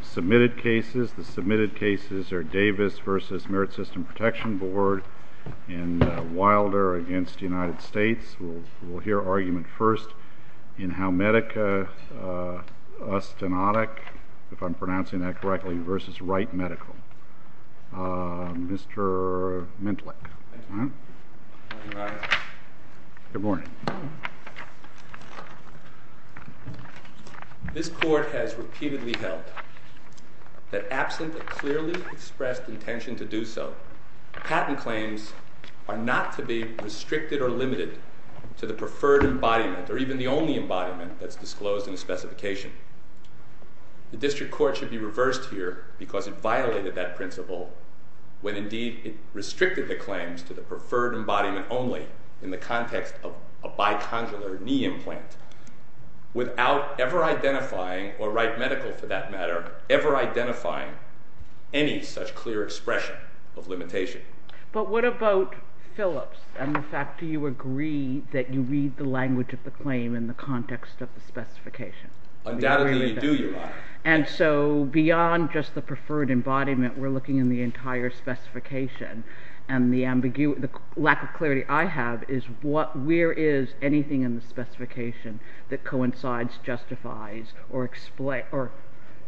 Submitted cases. The submitted cases are Davis v. Merit System Protection Board and Wilder v. United States. We'll hear argument first in Homedica Osteonic, if I'm pronouncing that correctly, v. Wright Medical. Mr. Mintlick. Good morning. This Court has repeatedly held that absent a clearly expressed intention to do so, patent claims are not to be restricted or limited to the preferred embodiment or even the only embodiment that's disclosed in the specification. The District Court should be reversed here because it violated that principle when indeed it restricted the claims to the preferred embodiment only in the context of a bicondylar knee implant without ever identifying, or Wright Medical for that matter, ever identifying any such clear expression of limitation. But what about Phillips and the fact that you agree that you read the language of the claim in the context of the specification? Undoubtedly we do, Your Honor. And so beyond just the preferred embodiment, we're looking in the entire specification, and the ambiguity, the lack of clarity I have is where is anything in the specification that coincides, justifies, or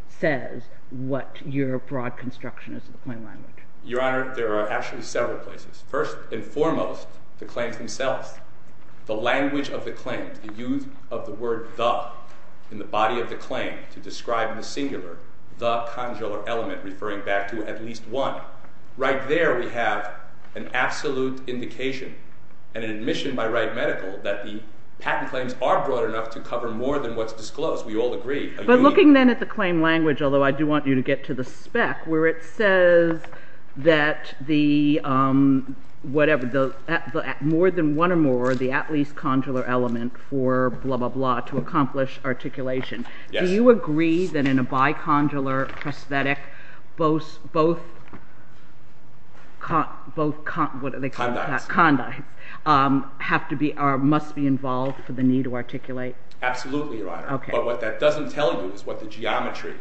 says what your broad construction is of the claim language? Your Honor, there are actually several places. First and foremost, the claims themselves. The language of the claims, the use of the word the in the body of the claim to describe in the singular the conjular element referring back to at least one. Right there we have an absolute indication and an admission by Wright Medical that the patent claims are broad enough to cover more than what's disclosed. We all agree. But looking then at the claim language, although I do want you to get to the spec, where it says that more than one or more, the at least conjular element for blah, blah, blah to accomplish articulation. Do you agree that in a bicondylar prosthetic both, what are they called? Condyles. Condyles must be involved for the knee to articulate? Absolutely, Your Honor. But what that doesn't tell you is what the geometry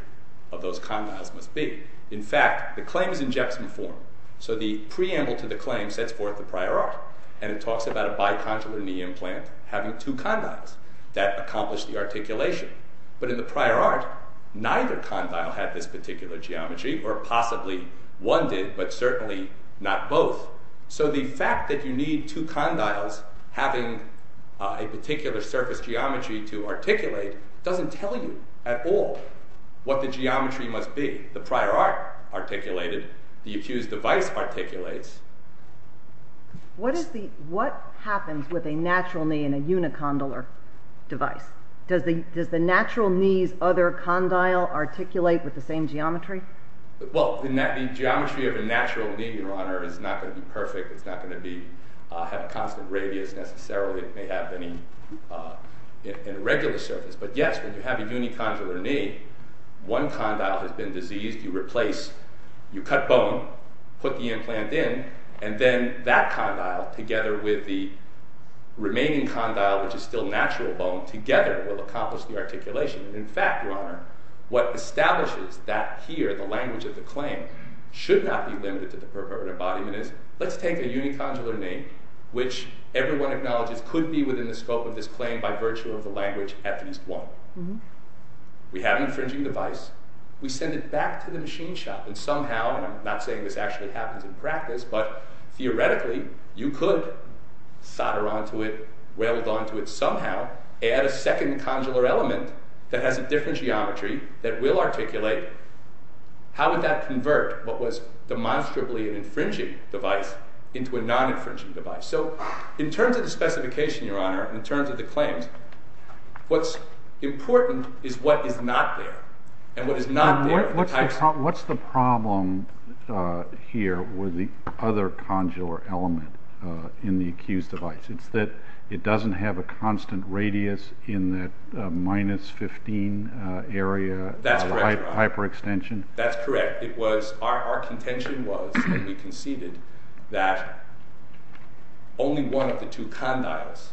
of those condyles must be. In fact, the claim is in Jetson form, so the preamble to the claim sets forth the prior art, and it talks about a bicondylar knee implant having two condyles that accomplish the articulation. But in the prior art, neither condyle had this particular geometry, or possibly one did, but certainly not both. So the fact that you need two condyles having a particular surface geometry to articulate doesn't tell you at all what the geometry must be. The prior art articulated, the accused device articulates. What happens with a natural knee in a unicondylar device? Does the natural knee's other condyle articulate with the same geometry? Well, the geometry of a natural knee, Your Honor, is not going to be perfect. It's not going to have a constant radius necessarily. It may have an irregular surface. But yes, when you have a unicondylar knee, one condyle has been diseased. You cut bone, put the implant in, and then that condyle together with the remaining condyle, which is still natural bone, together will accomplish the articulation. In fact, Your Honor, what establishes that here, the language of the claim, should not be limited to the perpetual embodiment is, let's take a unicondylar knee, which everyone acknowledges could be within the scope of this claim by virtue of the language at least one. We have an infringing device. We send it back to the machine shop, and somehow, and I'm not saying this actually happens in practice, but theoretically, you could solder onto it, weld onto it somehow, add a second condylar element that has a different geometry that will articulate. How would that convert what was demonstrably an infringing device into a non-infringing device? So in terms of the specification, Your Honor, in terms of the claims, what's important is what is not there. What's the problem here with the other condylar element in the accused device? It's that it doesn't have a constant radius in that minus 15 area of hyperextension? That's correct, Your Honor. That's correct. Our contention was, and we conceded, that only one of the two condyles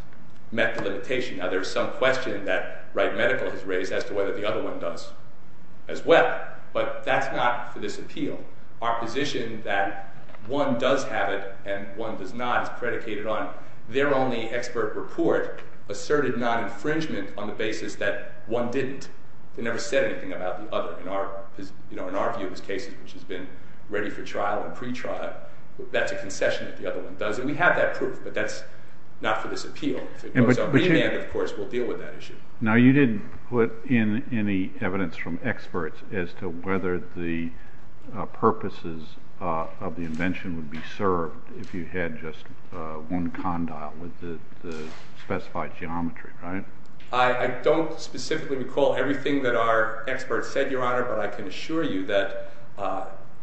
met the limitation. Now, there's some question that Wright Medical has raised as to whether the other one does as well, but that's not for this appeal. Our position that one does have it and one does not is predicated on their only expert report asserted non-infringement on the basis that one didn't. They never said anything about the other in our view of these cases, which has been ready for trial and pretrial. That's a concession that the other one does, and we have that proof, but that's not for this appeal. If it goes up remand, of course, we'll deal with that issue. Now, you didn't put in any evidence from experts as to whether the purposes of the invention would be served if you had just one condyle with the specified geometry, right? I don't specifically recall everything that our experts said, Your Honor, but I can assure you that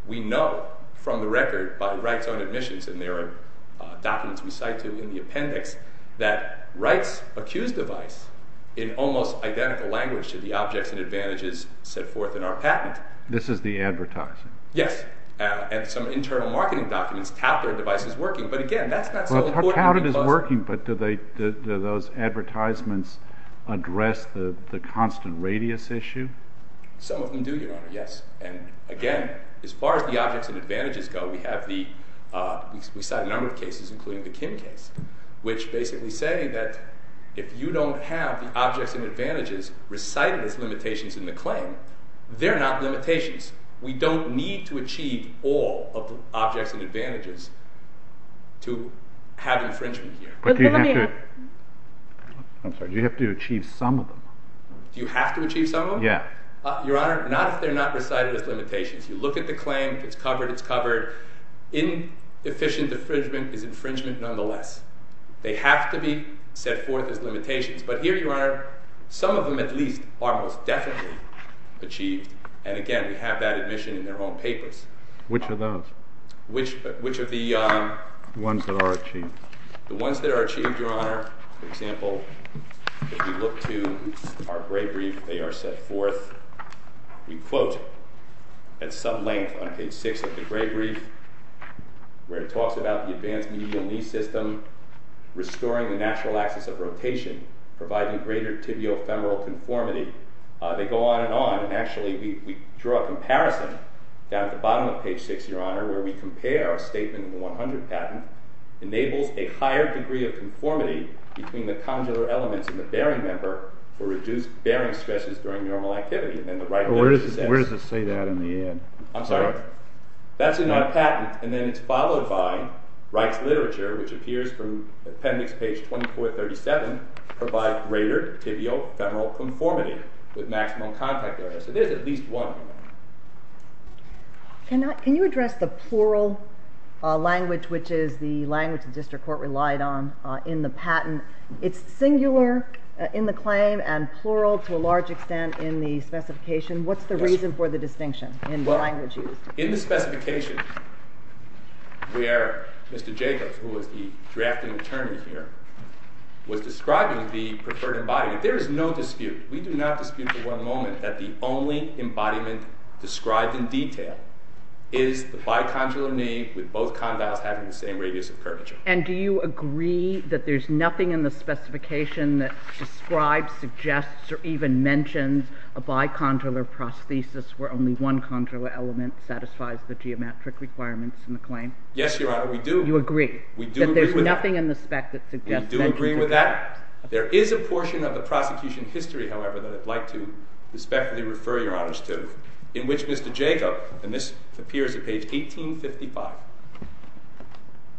we know from the record by Wright's own admissions, and there are documents we cite to in the appendix that Wright's accused device in almost identical language to the objects and advantages set forth in our patent. This is the advertising? Yes, and some internal marketing documents tout their devices working, but again, that's not so important. Well, tout it as working, but do those advertisements address the constant radius issue? Some of them do, Your Honor, yes, and again, as far as the objects and advantages go, we cite a number of cases, including the Kim case, which basically say that if you don't have the objects and advantages recited as limitations in the claim, they're not limitations. We don't need to achieve all of the objects and advantages to have infringement here. Do you have to achieve some of them? Do you have to achieve some of them? Yeah. Your Honor, not if they're not recited as limitations. You look at the claim. It's covered. It's covered. Inefficient infringement is infringement nonetheless. They have to be set forth as limitations, but here, Your Honor, some of them at least are most definitely achieved, and again, we have that admission in their own papers. Which of those? Which of the… The ones that are achieved. The ones that are achieved, Your Honor, for example, if you look to our gray brief, they are set forth. We quote at some length on page 6 of the gray brief where it talks about the advanced medial knee system, restoring the natural axis of rotation, providing greater tibiofemoral conformity. They go on and on, and actually we draw a comparison down at the bottom of page 6, Your Honor, where we compare a statement in the 100 patent, enables a higher degree of conformity between the conjular elements and the bearing member for reduced bearing stresses during normal activity. Where does it say that in the end? I'm sorry? That's in our patent, and then it's followed by Reich's literature, which appears from appendix page 2437, provide greater tibiofemoral conformity with maximum contact area. So there's at least one, Your Honor. Can you address the plural language, which is the language the district court relied on in the patent? It's singular in the claim and plural to a large extent in the specification. What's the reason for the distinction in the language used? In the specification, where Mr. Jacobs, who was the drafting attorney here, was describing the preferred embodiment, there is no dispute. We do not dispute for one moment that the only embodiment described in detail is the bicondylar knee with both condyles having the same radius of curvature. And do you agree that there's nothing in the specification that describes, suggests, or even mentions a bicondylar prosthesis where only one conjular element satisfies the geometric requirements in the claim? Yes, Your Honor, we do. You agree? We do agree with that. That there's nothing in the spec that suggests that. We do agree with that. There is a portion of the prosecution history, however, that I'd like to respectfully refer Your Honors to, in which Mr. Jacobs, and this appears at page 1855,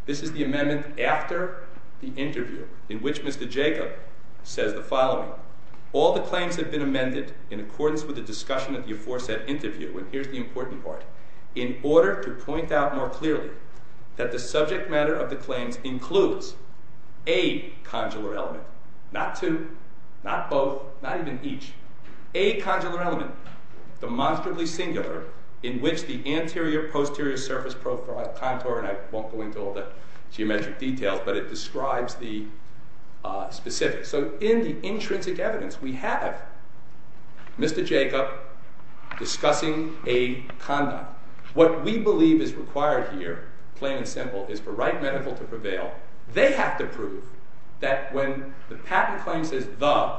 this is the amendment after the interview, in which Mr. Jacobs says the following. All the claims have been amended in accordance with the discussion of the aforesaid interview, and here's the important part, in order to point out more clearly that the subject matter of the claims includes a conjular element, not two, not both, not even each, a conjular element, demonstrably singular, in which the anterior-posterior surface contour, and I won't go into all the geometric details, but it describes the specifics. So in the intrinsic evidence, we have Mr. Jacobs discussing a condyle. What we believe is required here, plain and simple, is for right medical to prevail. They have to prove that when the patent claim says the,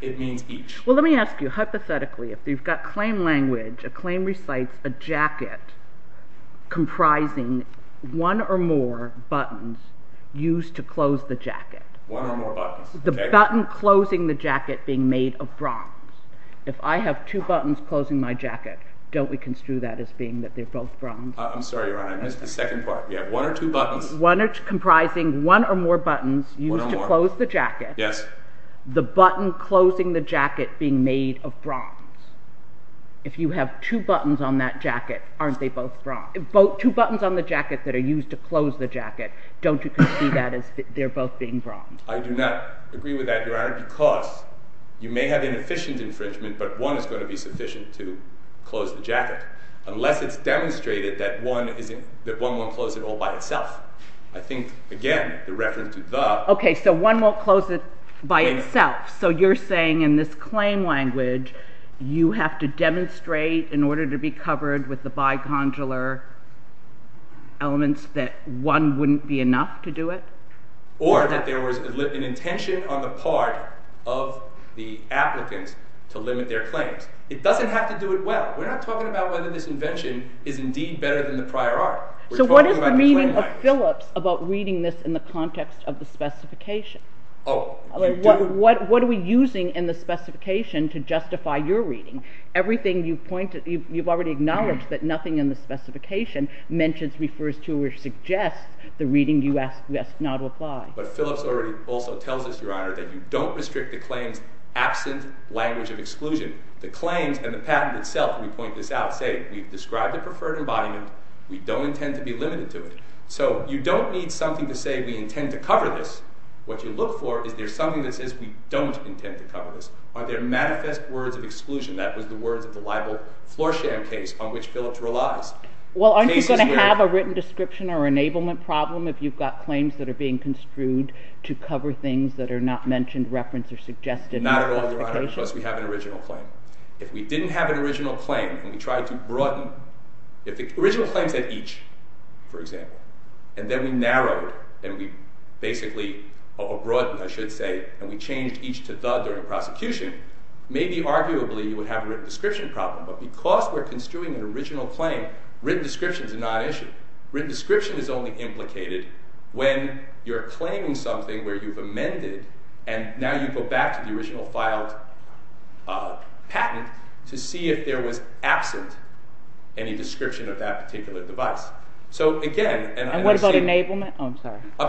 it means each. Well, let me ask you, hypothetically, if you've got claim language, a claim recites a jacket comprising one or more buttons used to close the jacket. One or more buttons. The button closing the jacket being made of bronze. If I have two buttons closing my jacket, don't we construe that as being that they're both bronze? I'm sorry, Your Honor, I missed the second part. We have one or two buttons. One or two, comprising one or more buttons used to close the jacket. One or more. Yes. The button closing the jacket being made of bronze. If you have two buttons on that jacket, aren't they both bronze? Two buttons on the jacket that are used to close the jacket, don't you construe that as they're both being bronze? I do not agree with that, Your Honor, because you may have inefficient infringement, but one is going to be sufficient to close the jacket, unless it's demonstrated that one won't close it all by itself. I think, again, the reference to the. Okay, so one won't close it by itself. So you're saying in this claim language, you have to demonstrate in order to be covered with the bicondylar elements that one wouldn't be enough to do it? Or that there was an intention on the part of the applicants to limit their claims. It doesn't have to do it well. We're not talking about whether this invention is indeed better than the prior art. So what is the meaning of Phillips about reading this in the context of the specification? Oh, you do. What are we using in the specification to justify your reading? Everything you've pointed, you've already acknowledged that nothing in the specification mentions, refers to, or suggests the reading you ask not to apply. But Phillips already also tells us, Your Honor, that you don't restrict the claims absent language of exclusion. The claims and the patent itself, we point this out, say we've described the preferred embodiment. We don't intend to be limited to it. So you don't need something to say we intend to cover this. What you look for is there's something that says we don't intend to cover this. Are there manifest words of exclusion? That was the words of the libel floor sham case on which Phillips relies. Well, aren't you going to have a written description or enablement problem if you've got claims that are being construed to cover things that are not mentioned, referenced, or suggested in the specification? Not at all, Your Honor, because we have an original claim. If we didn't have an original claim and we tried to broaden, if the original claim said each, for example, and then we narrowed, or broadened, I should say, and we changed each to the during prosecution, maybe arguably you would have a written description problem. But because we're construing an original claim, written descriptions are not an issue. Written description is only implicated when you're claiming something where you've amended and now you go back to the original filed patent to see if there was absent any description of that particular device. And what about enablement? I'm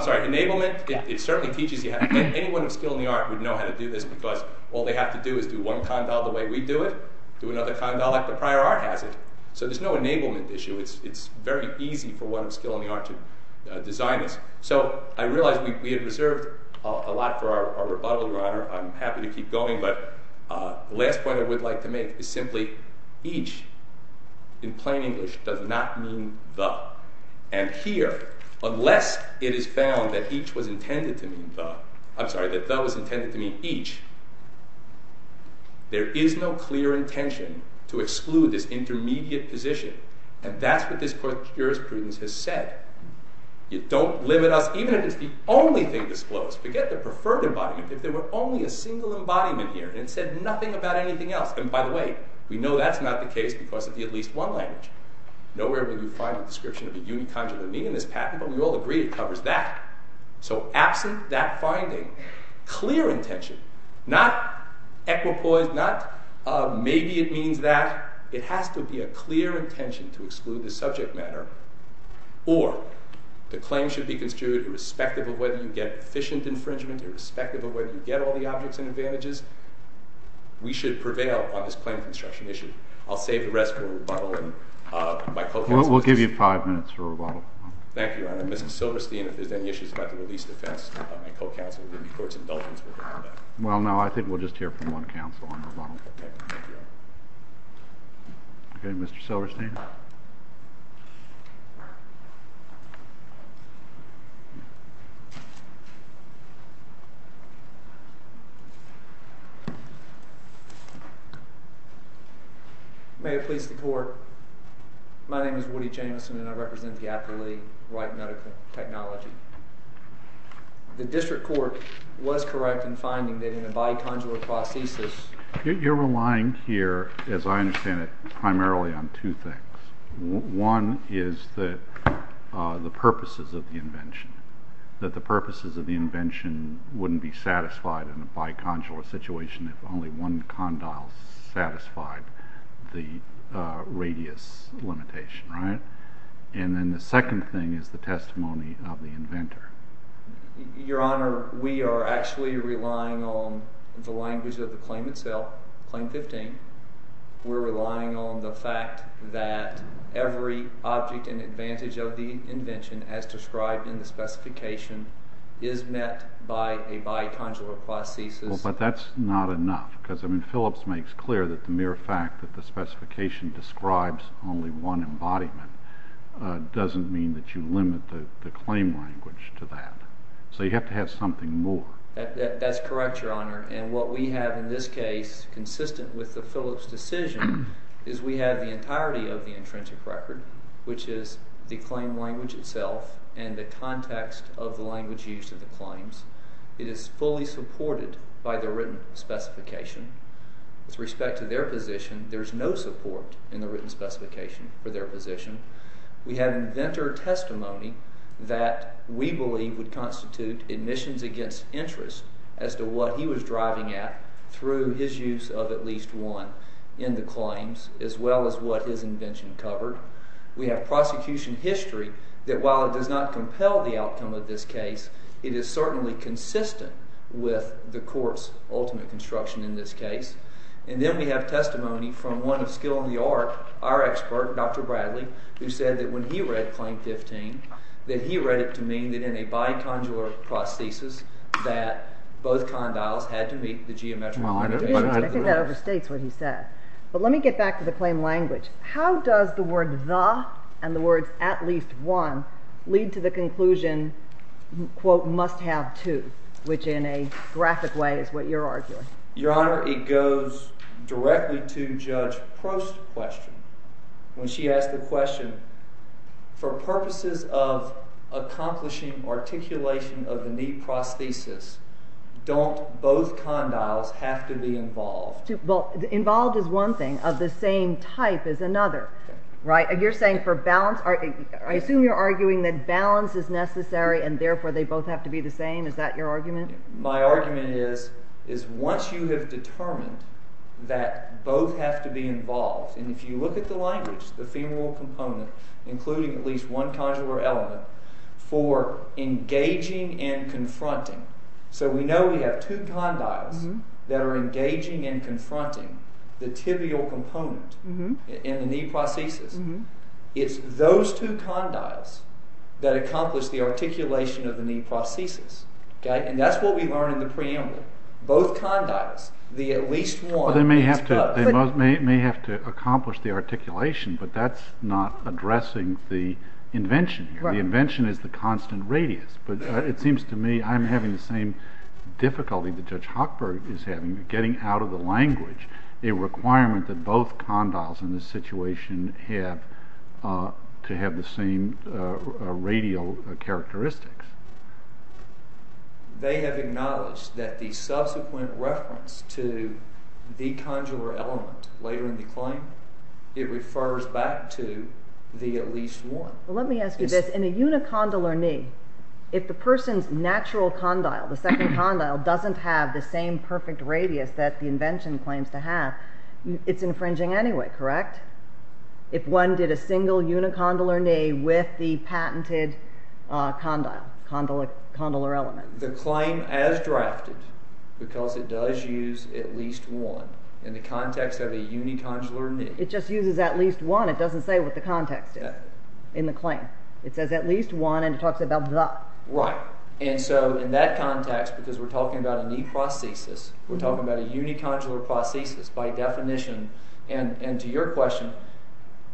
sorry, enablement, it certainly teaches you how to do it. Anyone of skill in the art would know how to do this because all they have to do is do one condyle the way we do it, do another condyle like the prior art has it. So there's no enablement issue. It's very easy for one of skill in the art to design this. So I realize we had reserved a lot for our rebuttal, Your Honor. I'm happy to keep going, but the last point I would like to make is simply each, in plain English, does not mean the. And here, unless it is found that each was intended to mean the, I'm sorry, that the was intended to mean each, there is no clear intention to exclude this intermediate position. And that's what this Court of Jurisprudence has said. You don't limit us, even if it's the only thing disclosed, forget the preferred embodiment, if there were only a single embodiment here and it said nothing about anything else. And by the way, we know that's not the case because of the at least one language. Nowhere will you find a description of a unicondylamine in this patent, but we all agree it covers that. So absent that finding, clear intention, not equipoise, not maybe it means that. It has to be a clear intention to exclude the subject matter. Or the claim should be construed irrespective of whether you get efficient infringement, irrespective of whether you get all the objects and advantages. We should prevail on this claim construction issue. I'll save the rest for rebuttal and my co-counsel. We'll give you five minutes for rebuttal. Thank you, Your Honor. Mr. Silverstein, if there's any issues about the release defense, my co-counsel will give me court's indulgence with that. Well, no, I think we'll just hear from one counsel on rebuttal. Thank you, Your Honor. Okay, Mr. Silverstein. May it please the Court. My name is Woody Jamison, and I represent the Appellee Right Medical Technology. The district court was correct in finding that in a bicondylar prosthesis You're relying here, as I understand it, primarily on two things. One is the purposes of the invention, that the purposes of the invention wouldn't be satisfied in a bicondylar situation if only one condyle satisfied the radius limitation, right? And then the second thing is the testimony of the inventor. Your Honor, we are actually relying on the language of the claim itself, Claim 15. We're relying on the fact that every object and advantage of the invention as described in the specification is met by a bicondylar prosthesis. But that's not enough, because Phillips makes clear that the mere fact that the specification describes only one embodiment doesn't mean that you limit the claim language to that. So you have to have something more. That's correct, Your Honor. And what we have in this case, consistent with the Phillips decision, is we have the entirety of the intrinsic record, which is the claim language itself and the context of the language used in the claims. It is fully supported by the written specification. With respect to their position, there's no support in the written specification for their position. We have inventor testimony that we believe would constitute admissions against interest as to what he was driving at through his use of at least one in the claims, as well as what his invention covered. We have prosecution history that while it does not compel the outcome of this case, it is certainly consistent with the court's ultimate construction in this case. And then we have testimony from one of skill in the art, our expert, Dr. Bradley, who said that when he read Claim 15, that he read it to mean that in a bicondylar prosthesis that both condyles had to meet the geometric limit. I think that overstates what he said. But let me get back to the claim language. How does the word the and the words at least one lead to the conclusion, quote, must have two, which in a graphic way is what you're arguing? Your Honor, it goes directly to Judge Prost's question. When she asked the question, for purposes of accomplishing articulation of the knee prosthesis, don't both condyles have to be involved? Involved is one thing. Of the same type is another. You're saying for balance, I assume you're arguing that balance is necessary and therefore they both have to be the same. Is that your argument? My argument is once you have determined that both have to be involved, and if you look at the language, the femoral component, including at least one condylar element for engaging and confronting. So we know we have two condyles that are engaging and confronting the tibial component in the knee prosthesis. It's those two condyles that accomplish the articulation of the knee prosthesis. And that's what we learn in the preamble. Both condyles, the at least one is both. They may have to accomplish the articulation, but that's not addressing the invention. The invention is the constant radius. But it seems to me I'm having the same difficulty that Judge Hochberg is having with getting out of the language a requirement that both condyles in this situation have to have the same radial characteristics. They have acknowledged that the subsequent reference to the condylar element later in the claim, it refers back to the at least one. Well, let me ask you this. In a unicondylar knee, if the person's natural condyle, the second condyle, doesn't have the same perfect radius that the invention claims to have, it's infringing anyway, correct? If one did a single unicondylar knee with the patented condyle, condylar element. The claim as drafted, because it does use at least one in the context of a unicondylar knee. It just uses at least one. It doesn't say what the context is in the claim. It says at least one, and it talks about the. Right. And so in that context, because we're talking about a knee prosthesis, we're talking about a unicondylar prosthesis by definition, and to your question,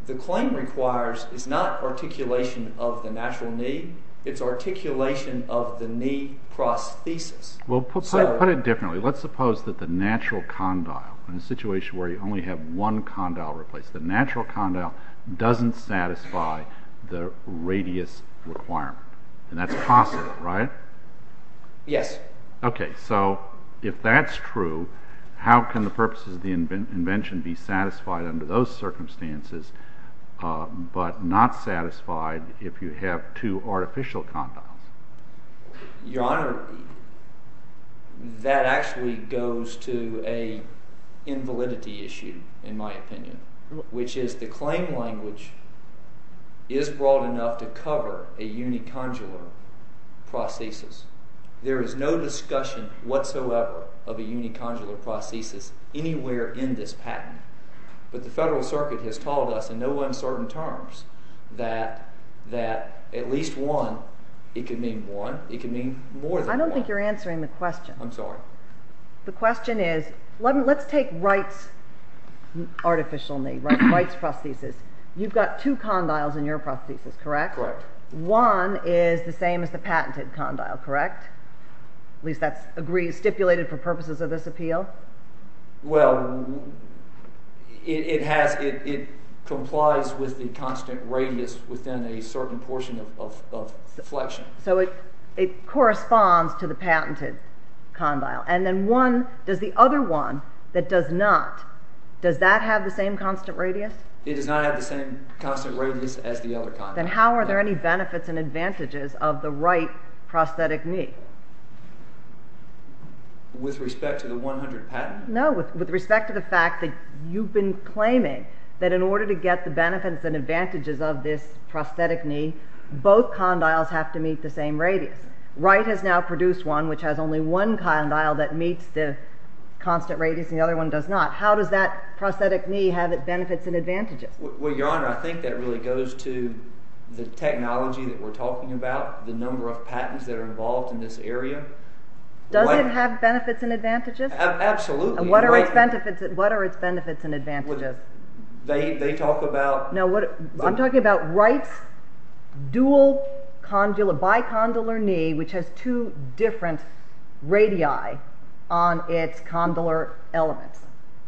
the claim requires is not articulation of the natural knee. It's articulation of the knee prosthesis. Well, put it differently. Let's suppose that the natural condyle, in a situation where you only have one condyle replaced, the natural condyle doesn't satisfy the radius requirement, and that's possible, right? Yes. Okay. So if that's true, how can the purposes of the invention be satisfied under those circumstances but not satisfied if you have two artificial condyles? Your Honor, that actually goes to an invalidity issue, in my opinion, which is the claim language is broad enough to cover a unicondylar prosthesis. There is no discussion whatsoever of a unicondylar prosthesis anywhere in this patent, but the Federal Circuit has told us in no uncertain terms that at least one, it could mean one, it could mean more than one. I don't think you're answering the question. I'm sorry. The question is, let's take Wright's artificial knee, Wright's prosthesis. You've got two condyles in your prosthesis, correct? Correct. One is the same as the patented condyle, correct? At least that's stipulated for purposes of this appeal. Well, it complies with the constant radius within a certain portion of flexion. So it corresponds to the patented condyle. And then one, does the other one that does not, does that have the same constant radius? It does not have the same constant radius as the other condyle. Then how are there any benefits and advantages of the Wright prosthetic knee? With respect to the 100 patent? No, with respect to the fact that you've been claiming that in order to get the benefits and advantages of this prosthetic knee, both condyles have to meet the same radius. Wright has now produced one which has only one condyle that meets the constant radius, and the other one does not. How does that prosthetic knee have its benefits and advantages? Well, Your Honor, I think that really goes to the technology that we're talking about, the number of patents that are involved in this area. Does it have benefits and advantages? Absolutely. And what are its benefits and advantages? They talk about... No, I'm talking about Wright's dual, bicondylar knee, which has two different radii on its condylar elements.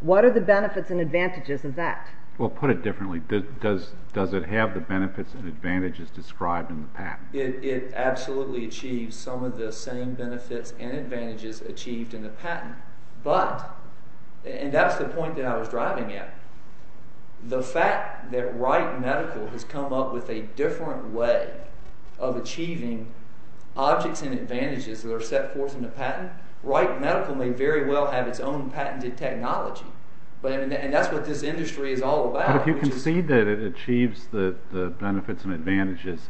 What are the benefits and advantages of that? Does it have the benefits and advantages described in the patent? It absolutely achieves some of the same benefits and advantages achieved in the patent. But, and that's the point that I was driving at, the fact that Wright Medical has come up with a different way of achieving objects and advantages that are set forth in the patent, Wright Medical may very well have its own patented technology, and that's what this industry is all about. But if you can see that it achieves the benefits and advantages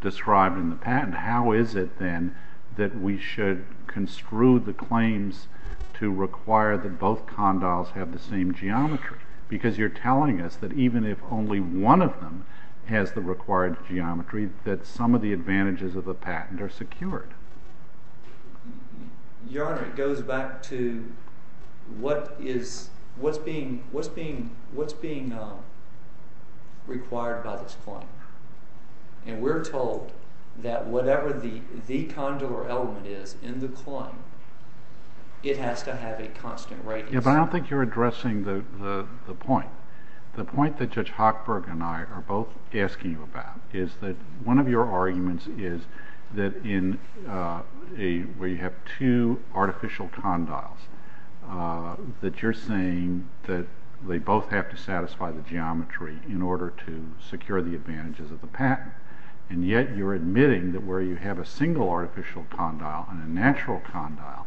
described in the patent, how is it, then, that we should construe the claims to require that both condyles have the same geometry? Because you're telling us that even if only one of them has the required geometry, that some of the advantages of the patent are secured. Your Honor, it goes back to what's being required by this claim. And we're told that whatever the condylar element is in the claim, it has to have a constant radius. Yeah, but I don't think you're addressing the point. The point that Judge Hochberg and I are both asking you about is that one of your arguments is that where you have two artificial condyles, that you're saying that they both have to satisfy the geometry in order to secure the advantages of the patent. And yet you're admitting that where you have a single artificial condyle and a natural condyle,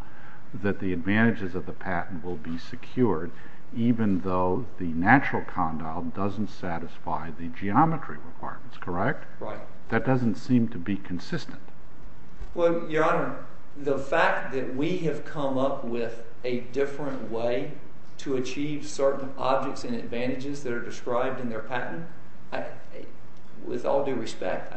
that the advantages of the patent will be secured, even though the natural condyle doesn't satisfy the geometry requirements, correct? Right. That doesn't seem to be consistent. Well, Your Honor, the fact that we have come up with a different way to achieve certain objects and advantages that are described in their patent, with all due respect,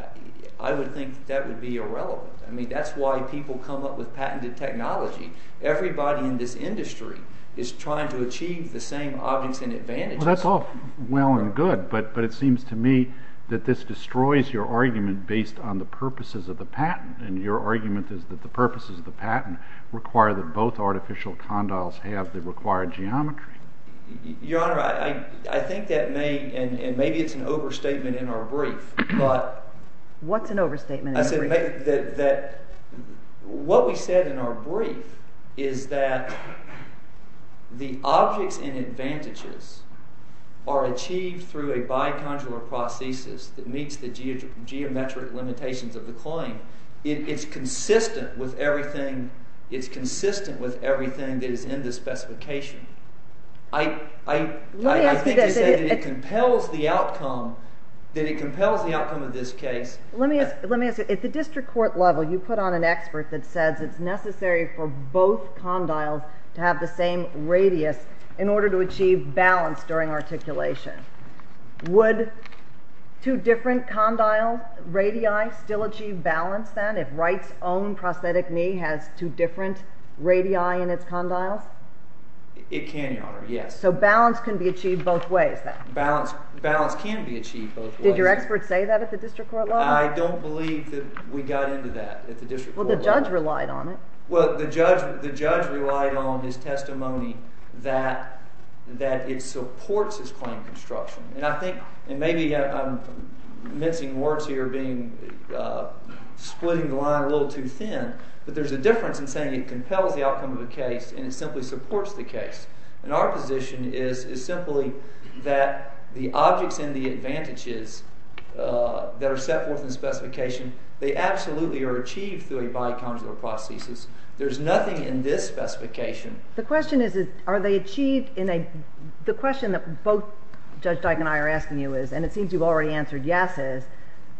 I would think that would be irrelevant. I mean, that's why people come up with patented technology. Everybody in this industry is trying to achieve the same objects and advantages. Well, that's all well and good, but it seems to me that this destroys your argument based on the purposes of the patent. And your argument is that the purposes of the patent require that both artificial condyles have the required geometry. Your Honor, I think that may, and maybe it's an overstatement in our brief, but... What's an overstatement? I said that what we said in our brief is that the objects and advantages are achieved through a bicondylar prosthesis that meets the geometric limitations of the claim. It's consistent with everything that is in the specification. I think you're saying that it compels the outcome of this case. Let me ask you, at the district court level you put on an expert that says it's necessary for both condyles to have the same radius in order to achieve balance during articulation. Would two different condyle radii still achieve balance then, if Wright's own prosthetic knee has two different radii in its condyles? It can, Your Honor, yes. So balance can be achieved both ways then? Balance can be achieved both ways. Did your expert say that at the district court level? I don't believe that we got into that at the district court level. Well, the judge relied on it. Well, the judge relied on his testimony that it supports his claim construction. And I think, and maybe I'm mincing words here, splitting the line a little too thin, but there's a difference in saying it compels the outcome of the case and it simply supports the case. And our position is simply that the objects and the advantages that are set forth in the specification, they absolutely are achieved through a bicondylar prosthesis. There's nothing in this specification. The question is, are they achieved in a, the question that both Judge Dyke and I are asking you is, and it seems you've already answered yes is,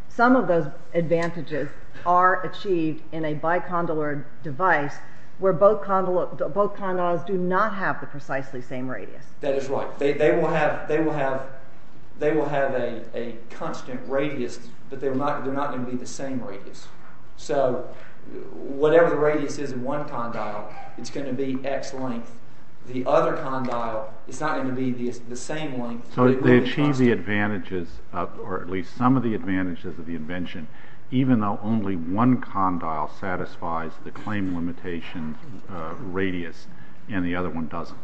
some of those advantages are achieved in a bicondylar device where both condyles do not have the precisely same radius. That is right. They will have a constant radius, but they're not going to be the same radius. So whatever the radius is in one condyle, it's going to be X length. The other condyle is not going to be the same length. So they achieve the advantages, or at least some of the advantages of the invention, even though only one condyle satisfies the claim limitation radius and the other one doesn't.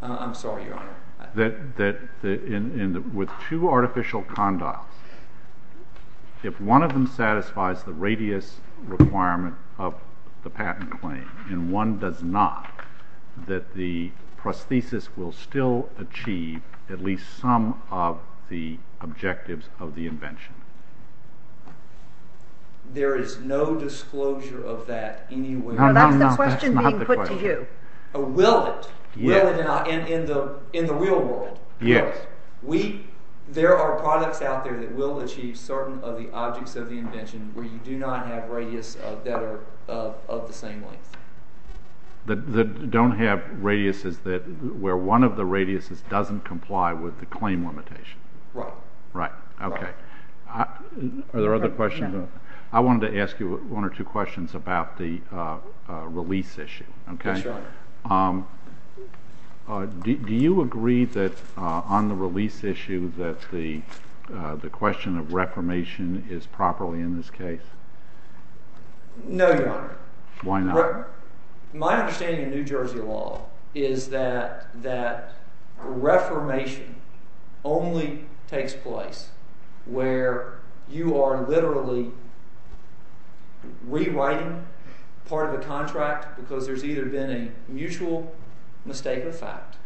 I'm sorry, Your Honor. With two artificial condyles, if one of them satisfies the radius requirement of the patent claim and one does not, that the prosthesis will still achieve at least some of the objectives of the invention. There is no disclosure of that anywhere. That's the question being put to you. Will it? Will it in the real world? Yes. There are products out there that will achieve certain of the objects of the invention where you do not have radius that are of the same length. That don't have radiuses where one of the radiuses doesn't comply with the claim limitation. Right. Right. Okay. Are there other questions? No. I wanted to ask you one or two questions about the release issue. Yes, Your Honor. Do you agree that on the release issue that the question of reformation is properly in this case? No, Your Honor. Why not? My understanding of New Jersey law is that reformation only takes place where you are literally rewriting part of a contract because there's either been a mutual mistake of fact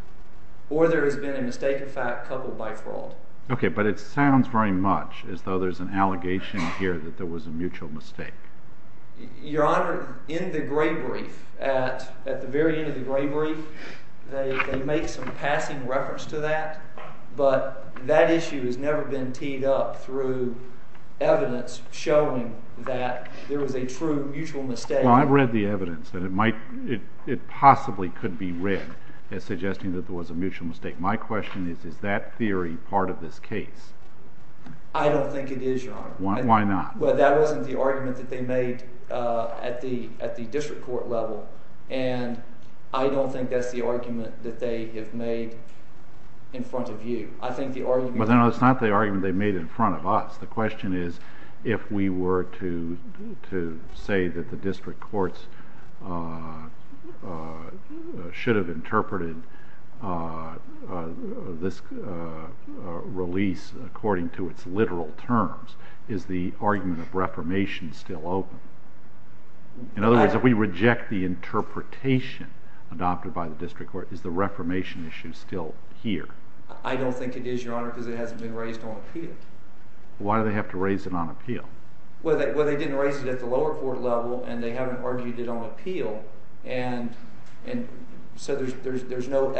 or there has been a mistake of fact coupled by fraud. Okay, but it sounds very much as though there's an allegation here that there was a mutual mistake. Your Honor, in the gray brief, at the very end of the gray brief, they make some passing reference to that, but that issue has never been teed up through evidence showing that there was a true mutual mistake. Well, I've read the evidence that it possibly could be read as suggesting that there was a mutual mistake. My question is, is that theory part of this case? I don't think it is, Your Honor. Why not? Well, that wasn't the argument that they made at the district court level, and I don't think that's the argument that they have made in front of you. I think the argument— Well, no, it's not the argument they made in front of us. The question is, if we were to say that the district courts should have interpreted this release according to its literal terms, is the argument of reformation still open? In other words, if we reject the interpretation adopted by the district court, is the reformation issue still here? I don't think it is, Your Honor, because it hasn't been raised on appeal. Why do they have to raise it on appeal? Well, they didn't raise it at the lower court level, and they haven't argued it on appeal, and so there's no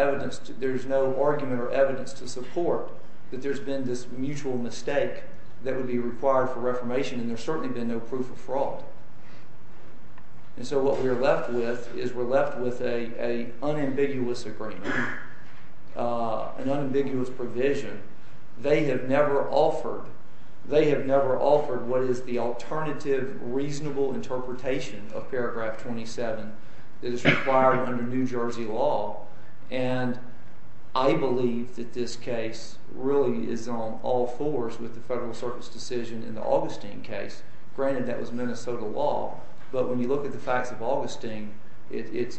argument or evidence to support that there's been this mutual mistake that would be required for reformation, and there's certainly been no proof of fraud. And so what we're left with is we're left with an unambiguous agreement, an unambiguous provision. They have never offered what is the alternative reasonable interpretation of paragraph 27 that is required under New Jersey law, and I believe that this case really is on all fours with the Federal Circuit's decision in the Augustine case. Granted, that was Minnesota law, but when you look at the facts of Augustine, it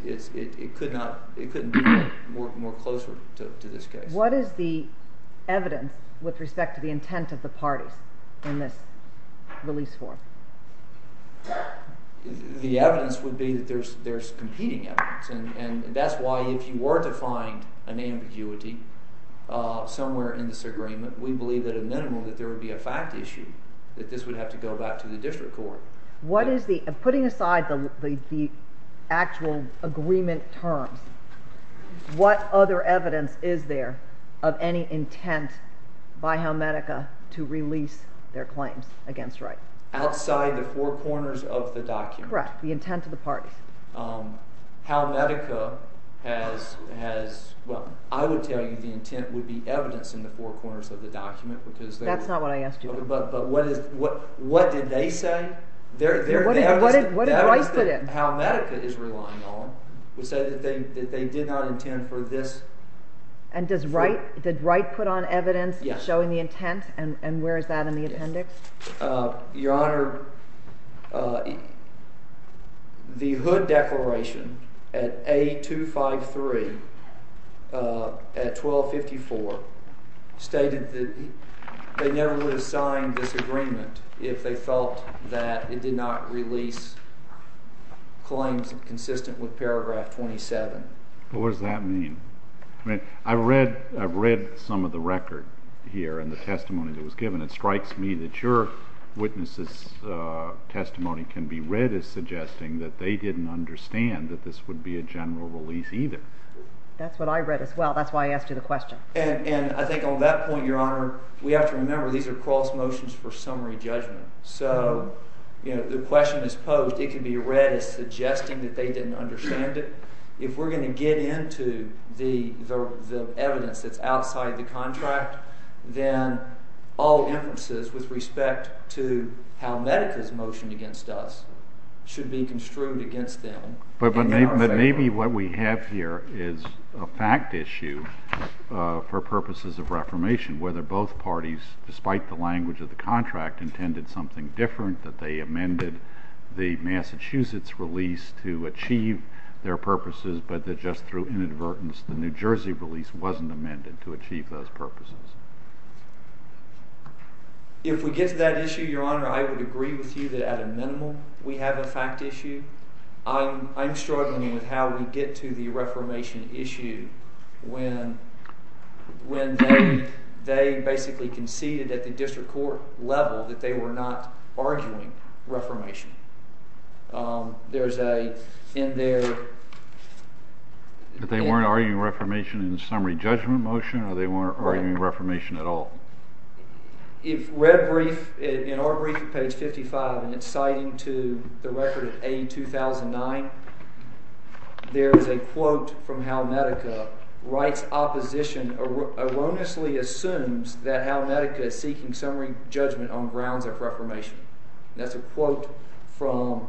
couldn't be more closer to this case. What is the evidence with respect to the intent of the parties in this release form? The evidence would be that there's competing evidence, and that's why if you were to find an ambiguity somewhere in this agreement, we believe at a minimum that there would be a fact issue, that this would have to go back to the district court. What is the – putting aside the actual agreement terms, what other evidence is there of any intent by Helmetica to release their claims against Wright? Outside the four corners of the document. Correct. The intent of the parties. Helmetica has – well, I would tell you the intent would be evidence in the four corners of the document because they were – That's not what I asked you. But what did they say? What did Wright put in? Helmetica is relying on, would say that they did not intend for this – And does Wright – did Wright put on evidence showing the intent? Yes. And where is that in the appendix? Your Honor, the Hood Declaration at A253 at 1254 stated that they never would have signed this agreement if they felt that it did not release claims consistent with paragraph 27. Well, what does that mean? I mean, I've read some of the record here and the testimony that was given. It strikes me that your witness' testimony can be read as suggesting that they didn't understand that this would be a general release either. That's what I read as well. That's why I asked you the question. And I think on that point, Your Honor, we have to remember these are cross motions for summary judgment. So, you know, the question is posed. It can be read as suggesting that they didn't understand it. If we're going to get into the evidence that's outside the contract, then all inferences with respect to Helmetica's motion against us should be construed against them. But maybe what we have here is a fact issue for purposes of reformation, whether both parties, despite the language of the contract, intended something different, that they amended the Massachusetts release to achieve their purposes, but that just through inadvertence the New Jersey release wasn't amended to achieve those purposes. If we get to that issue, Your Honor, I would agree with you that at a minimal we have a fact issue. I'm struggling with how we get to the reformation issue when they basically conceded at the district court level that they were not arguing reformation. There's a in their- But they weren't arguing reformation in the summary judgment motion, or they weren't arguing reformation at all? In our brief at page 55, and it's citing to the record of A2009, there is a quote from Helmetica, that writes, opposition erroneously assumes that Helmetica is seeking summary judgment on grounds of reformation. That's a quote from-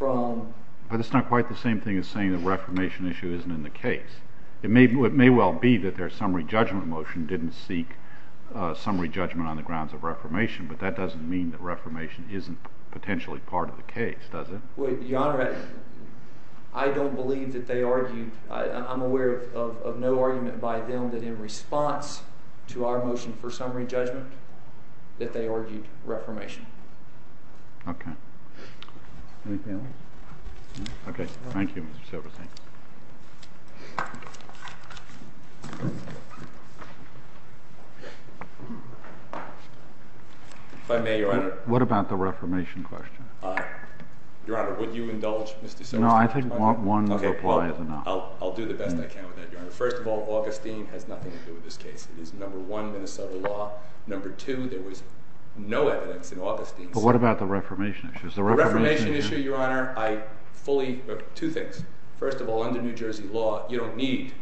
But it's not quite the same thing as saying the reformation issue isn't in the case. It may well be that their summary judgment motion didn't seek summary judgment on the grounds of reformation, but that doesn't mean that reformation isn't potentially part of the case, does it? Well, Your Honor, I don't believe that they argued- I'm aware of no argument by them that in response to our motion for summary judgment that they argued reformation. Okay. Anything else? Okay, thank you, Mr. Silverstein. If I may, Your Honor? What about the reformation question? Your Honor, would you indulge Mr. Silverstein? No, I think one reply is enough. Okay, well, I'll do the best I can with that, Your Honor. First of all, Augustine has nothing to do with this case. It is number one, Minnesota law. Number two, there was no evidence in Augustine's- But what about the reformation issue? The reformation issue, Your Honor, I fully- two things. First of all, under New Jersey law, you don't need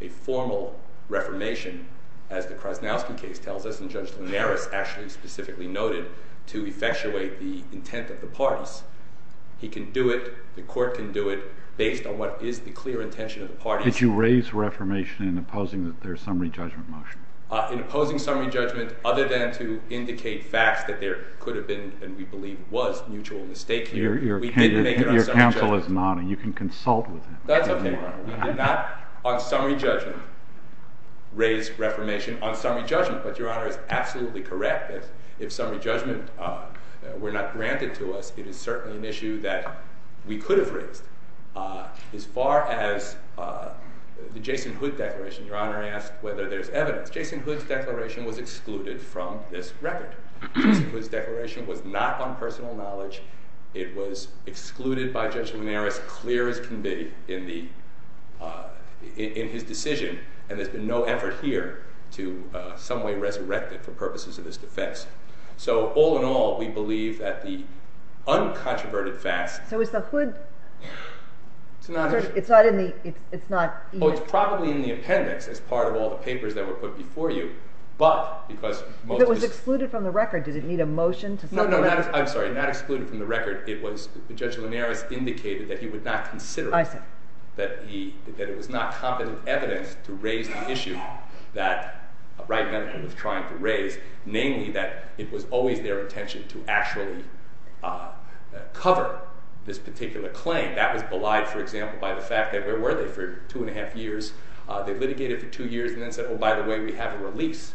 a formal reformation, as the Krasnowski case tells us, and Judge Linares actually specifically noted, to effectuate the intent of the parties. He can do it, the court can do it, based on what is the clear intention of the parties. Did you raise reformation in opposing their summary judgment motion? In opposing summary judgment, other than to indicate facts that there could have been, and we believe was, mutual mistake here, we didn't make it on summary judgment. Your counsel is nodding. You can consult with him. That's okay. We did not, on summary judgment, raise reformation on summary judgment. But Your Honor is absolutely correct that if summary judgment were not granted to us, it is certainly an issue that we could have raised. As far as the Jason Hood declaration, Your Honor asked whether there's evidence. Jason Hood's declaration was excluded from this record. Jason Hood's declaration was not on personal knowledge. It was excluded by Judge Linares, clear as can be, in his decision. And there's been no effort here to some way resurrect it for purposes of this defense. So all in all, we believe that the uncontroverted facts... So is the Hood... It's not in the... Oh, it's probably in the appendix as part of all the papers that were put before you. But, because... If it was excluded from the record, did it need a motion to... No, no, I'm sorry, not excluded from the record. It was, Judge Linares indicated that he would not consider it. I see. That it was not competent evidence to raise the issue that Wright Medical was trying to raise, namely that it was always their intention to actually cover this particular claim. That was belied, for example, by the fact that where were they for two and a half years? They litigated for two years and then said, oh, by the way, we have a release.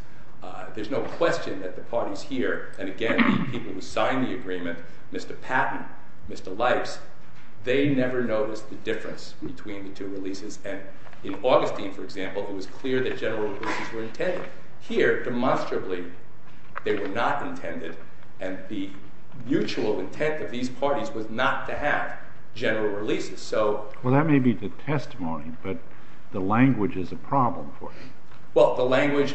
There's no question that the parties here, and again, the people who signed the agreement, Mr. Patton, Mr. Lipes, they never noticed the difference between the two releases. And in Augustine, for example, it was clear that general releases were intended. Here, demonstrably, they were not intended, and the mutual intent of these parties was not to have general releases. Well, that may be the testimony, but the language is a problem for you. Well, how is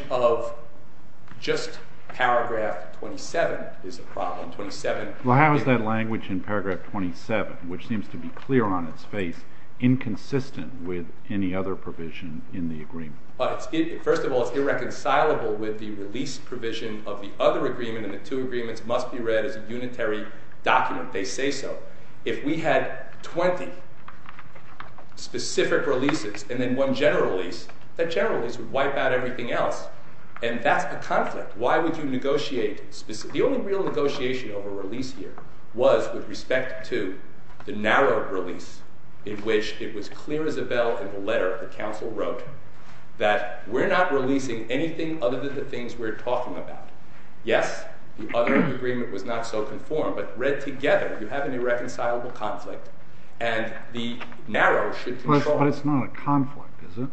that language in paragraph 27, which seems to be clear on its face, inconsistent with any other provision in the agreement? First of all, it's irreconcilable with the release provision of the other agreement, and the two agreements must be read as a unitary document. They say so. If we had 20 specific releases and then one general release, that general release would wipe out everything else, and that's a conflict. The only real negotiation over a release here was with respect to the narrow release in which it was clear as a bell in the letter the Council wrote that we're not releasing anything other than the things we're talking about. Yes, the other agreement was not so conformed, but read together, you have an irreconcilable conflict, and the narrow should conform. But it's not a conflict, is it?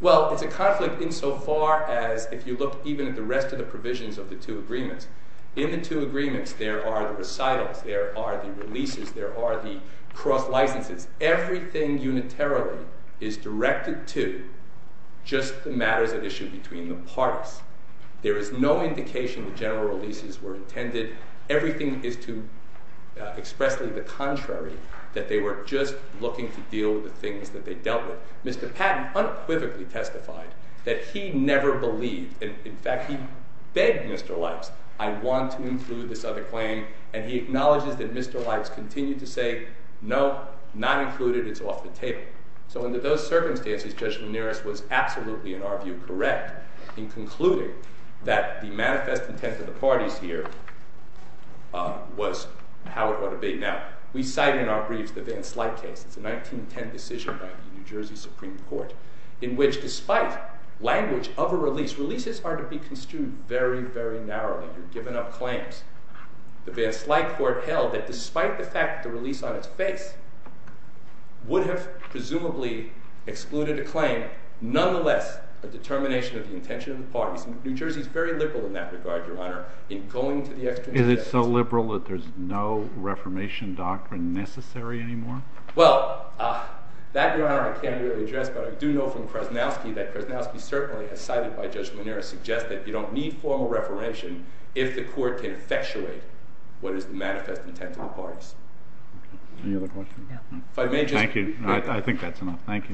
Well, it's a conflict insofar as if you look even at the rest of the provisions of the two agreements. In the two agreements, there are the recitals, there are the releases, there are the cross licenses. Everything unitarily is directed to just the matters at issue between the parties. There is no indication the general releases were intended. Everything is to expressly the contrary, that they were just looking to deal with the things that they dealt with. Mr. Patton unquivocally testified that he never believed. In fact, he begged Mr. Lipes, I want to include this other claim, and he acknowledges that Mr. Lipes continued to say, no, not included, it's off the table. So under those circumstances, Judge Lanieris was absolutely, in our view, correct in concluding that the manifest intent of the parties here was how it ought to be. Now, we cite in our briefs the Van Slyke case. It's a 1910 decision by the New Jersey Supreme Court in which despite language of a release, releases are to be construed very, very narrowly. You're giving up claims. The Van Slyke court held that despite the fact that the release on its face would have presumably excluded a claim, nonetheless a determination of the intention of the parties. New Jersey is very liberal in that regard, Your Honor, in going to the extreme steps. Is it so liberal that there's no reformation doctrine necessary anymore? Well, that, Your Honor, I can't really address, but I do know from Krasnowski that Krasnowski certainly, as cited by Judge Lanieris, suggests that you don't need formal reformation if the court can effectuate what is the manifest intent of the parties. Any other questions? Thank you. I think that's enough. Thank you.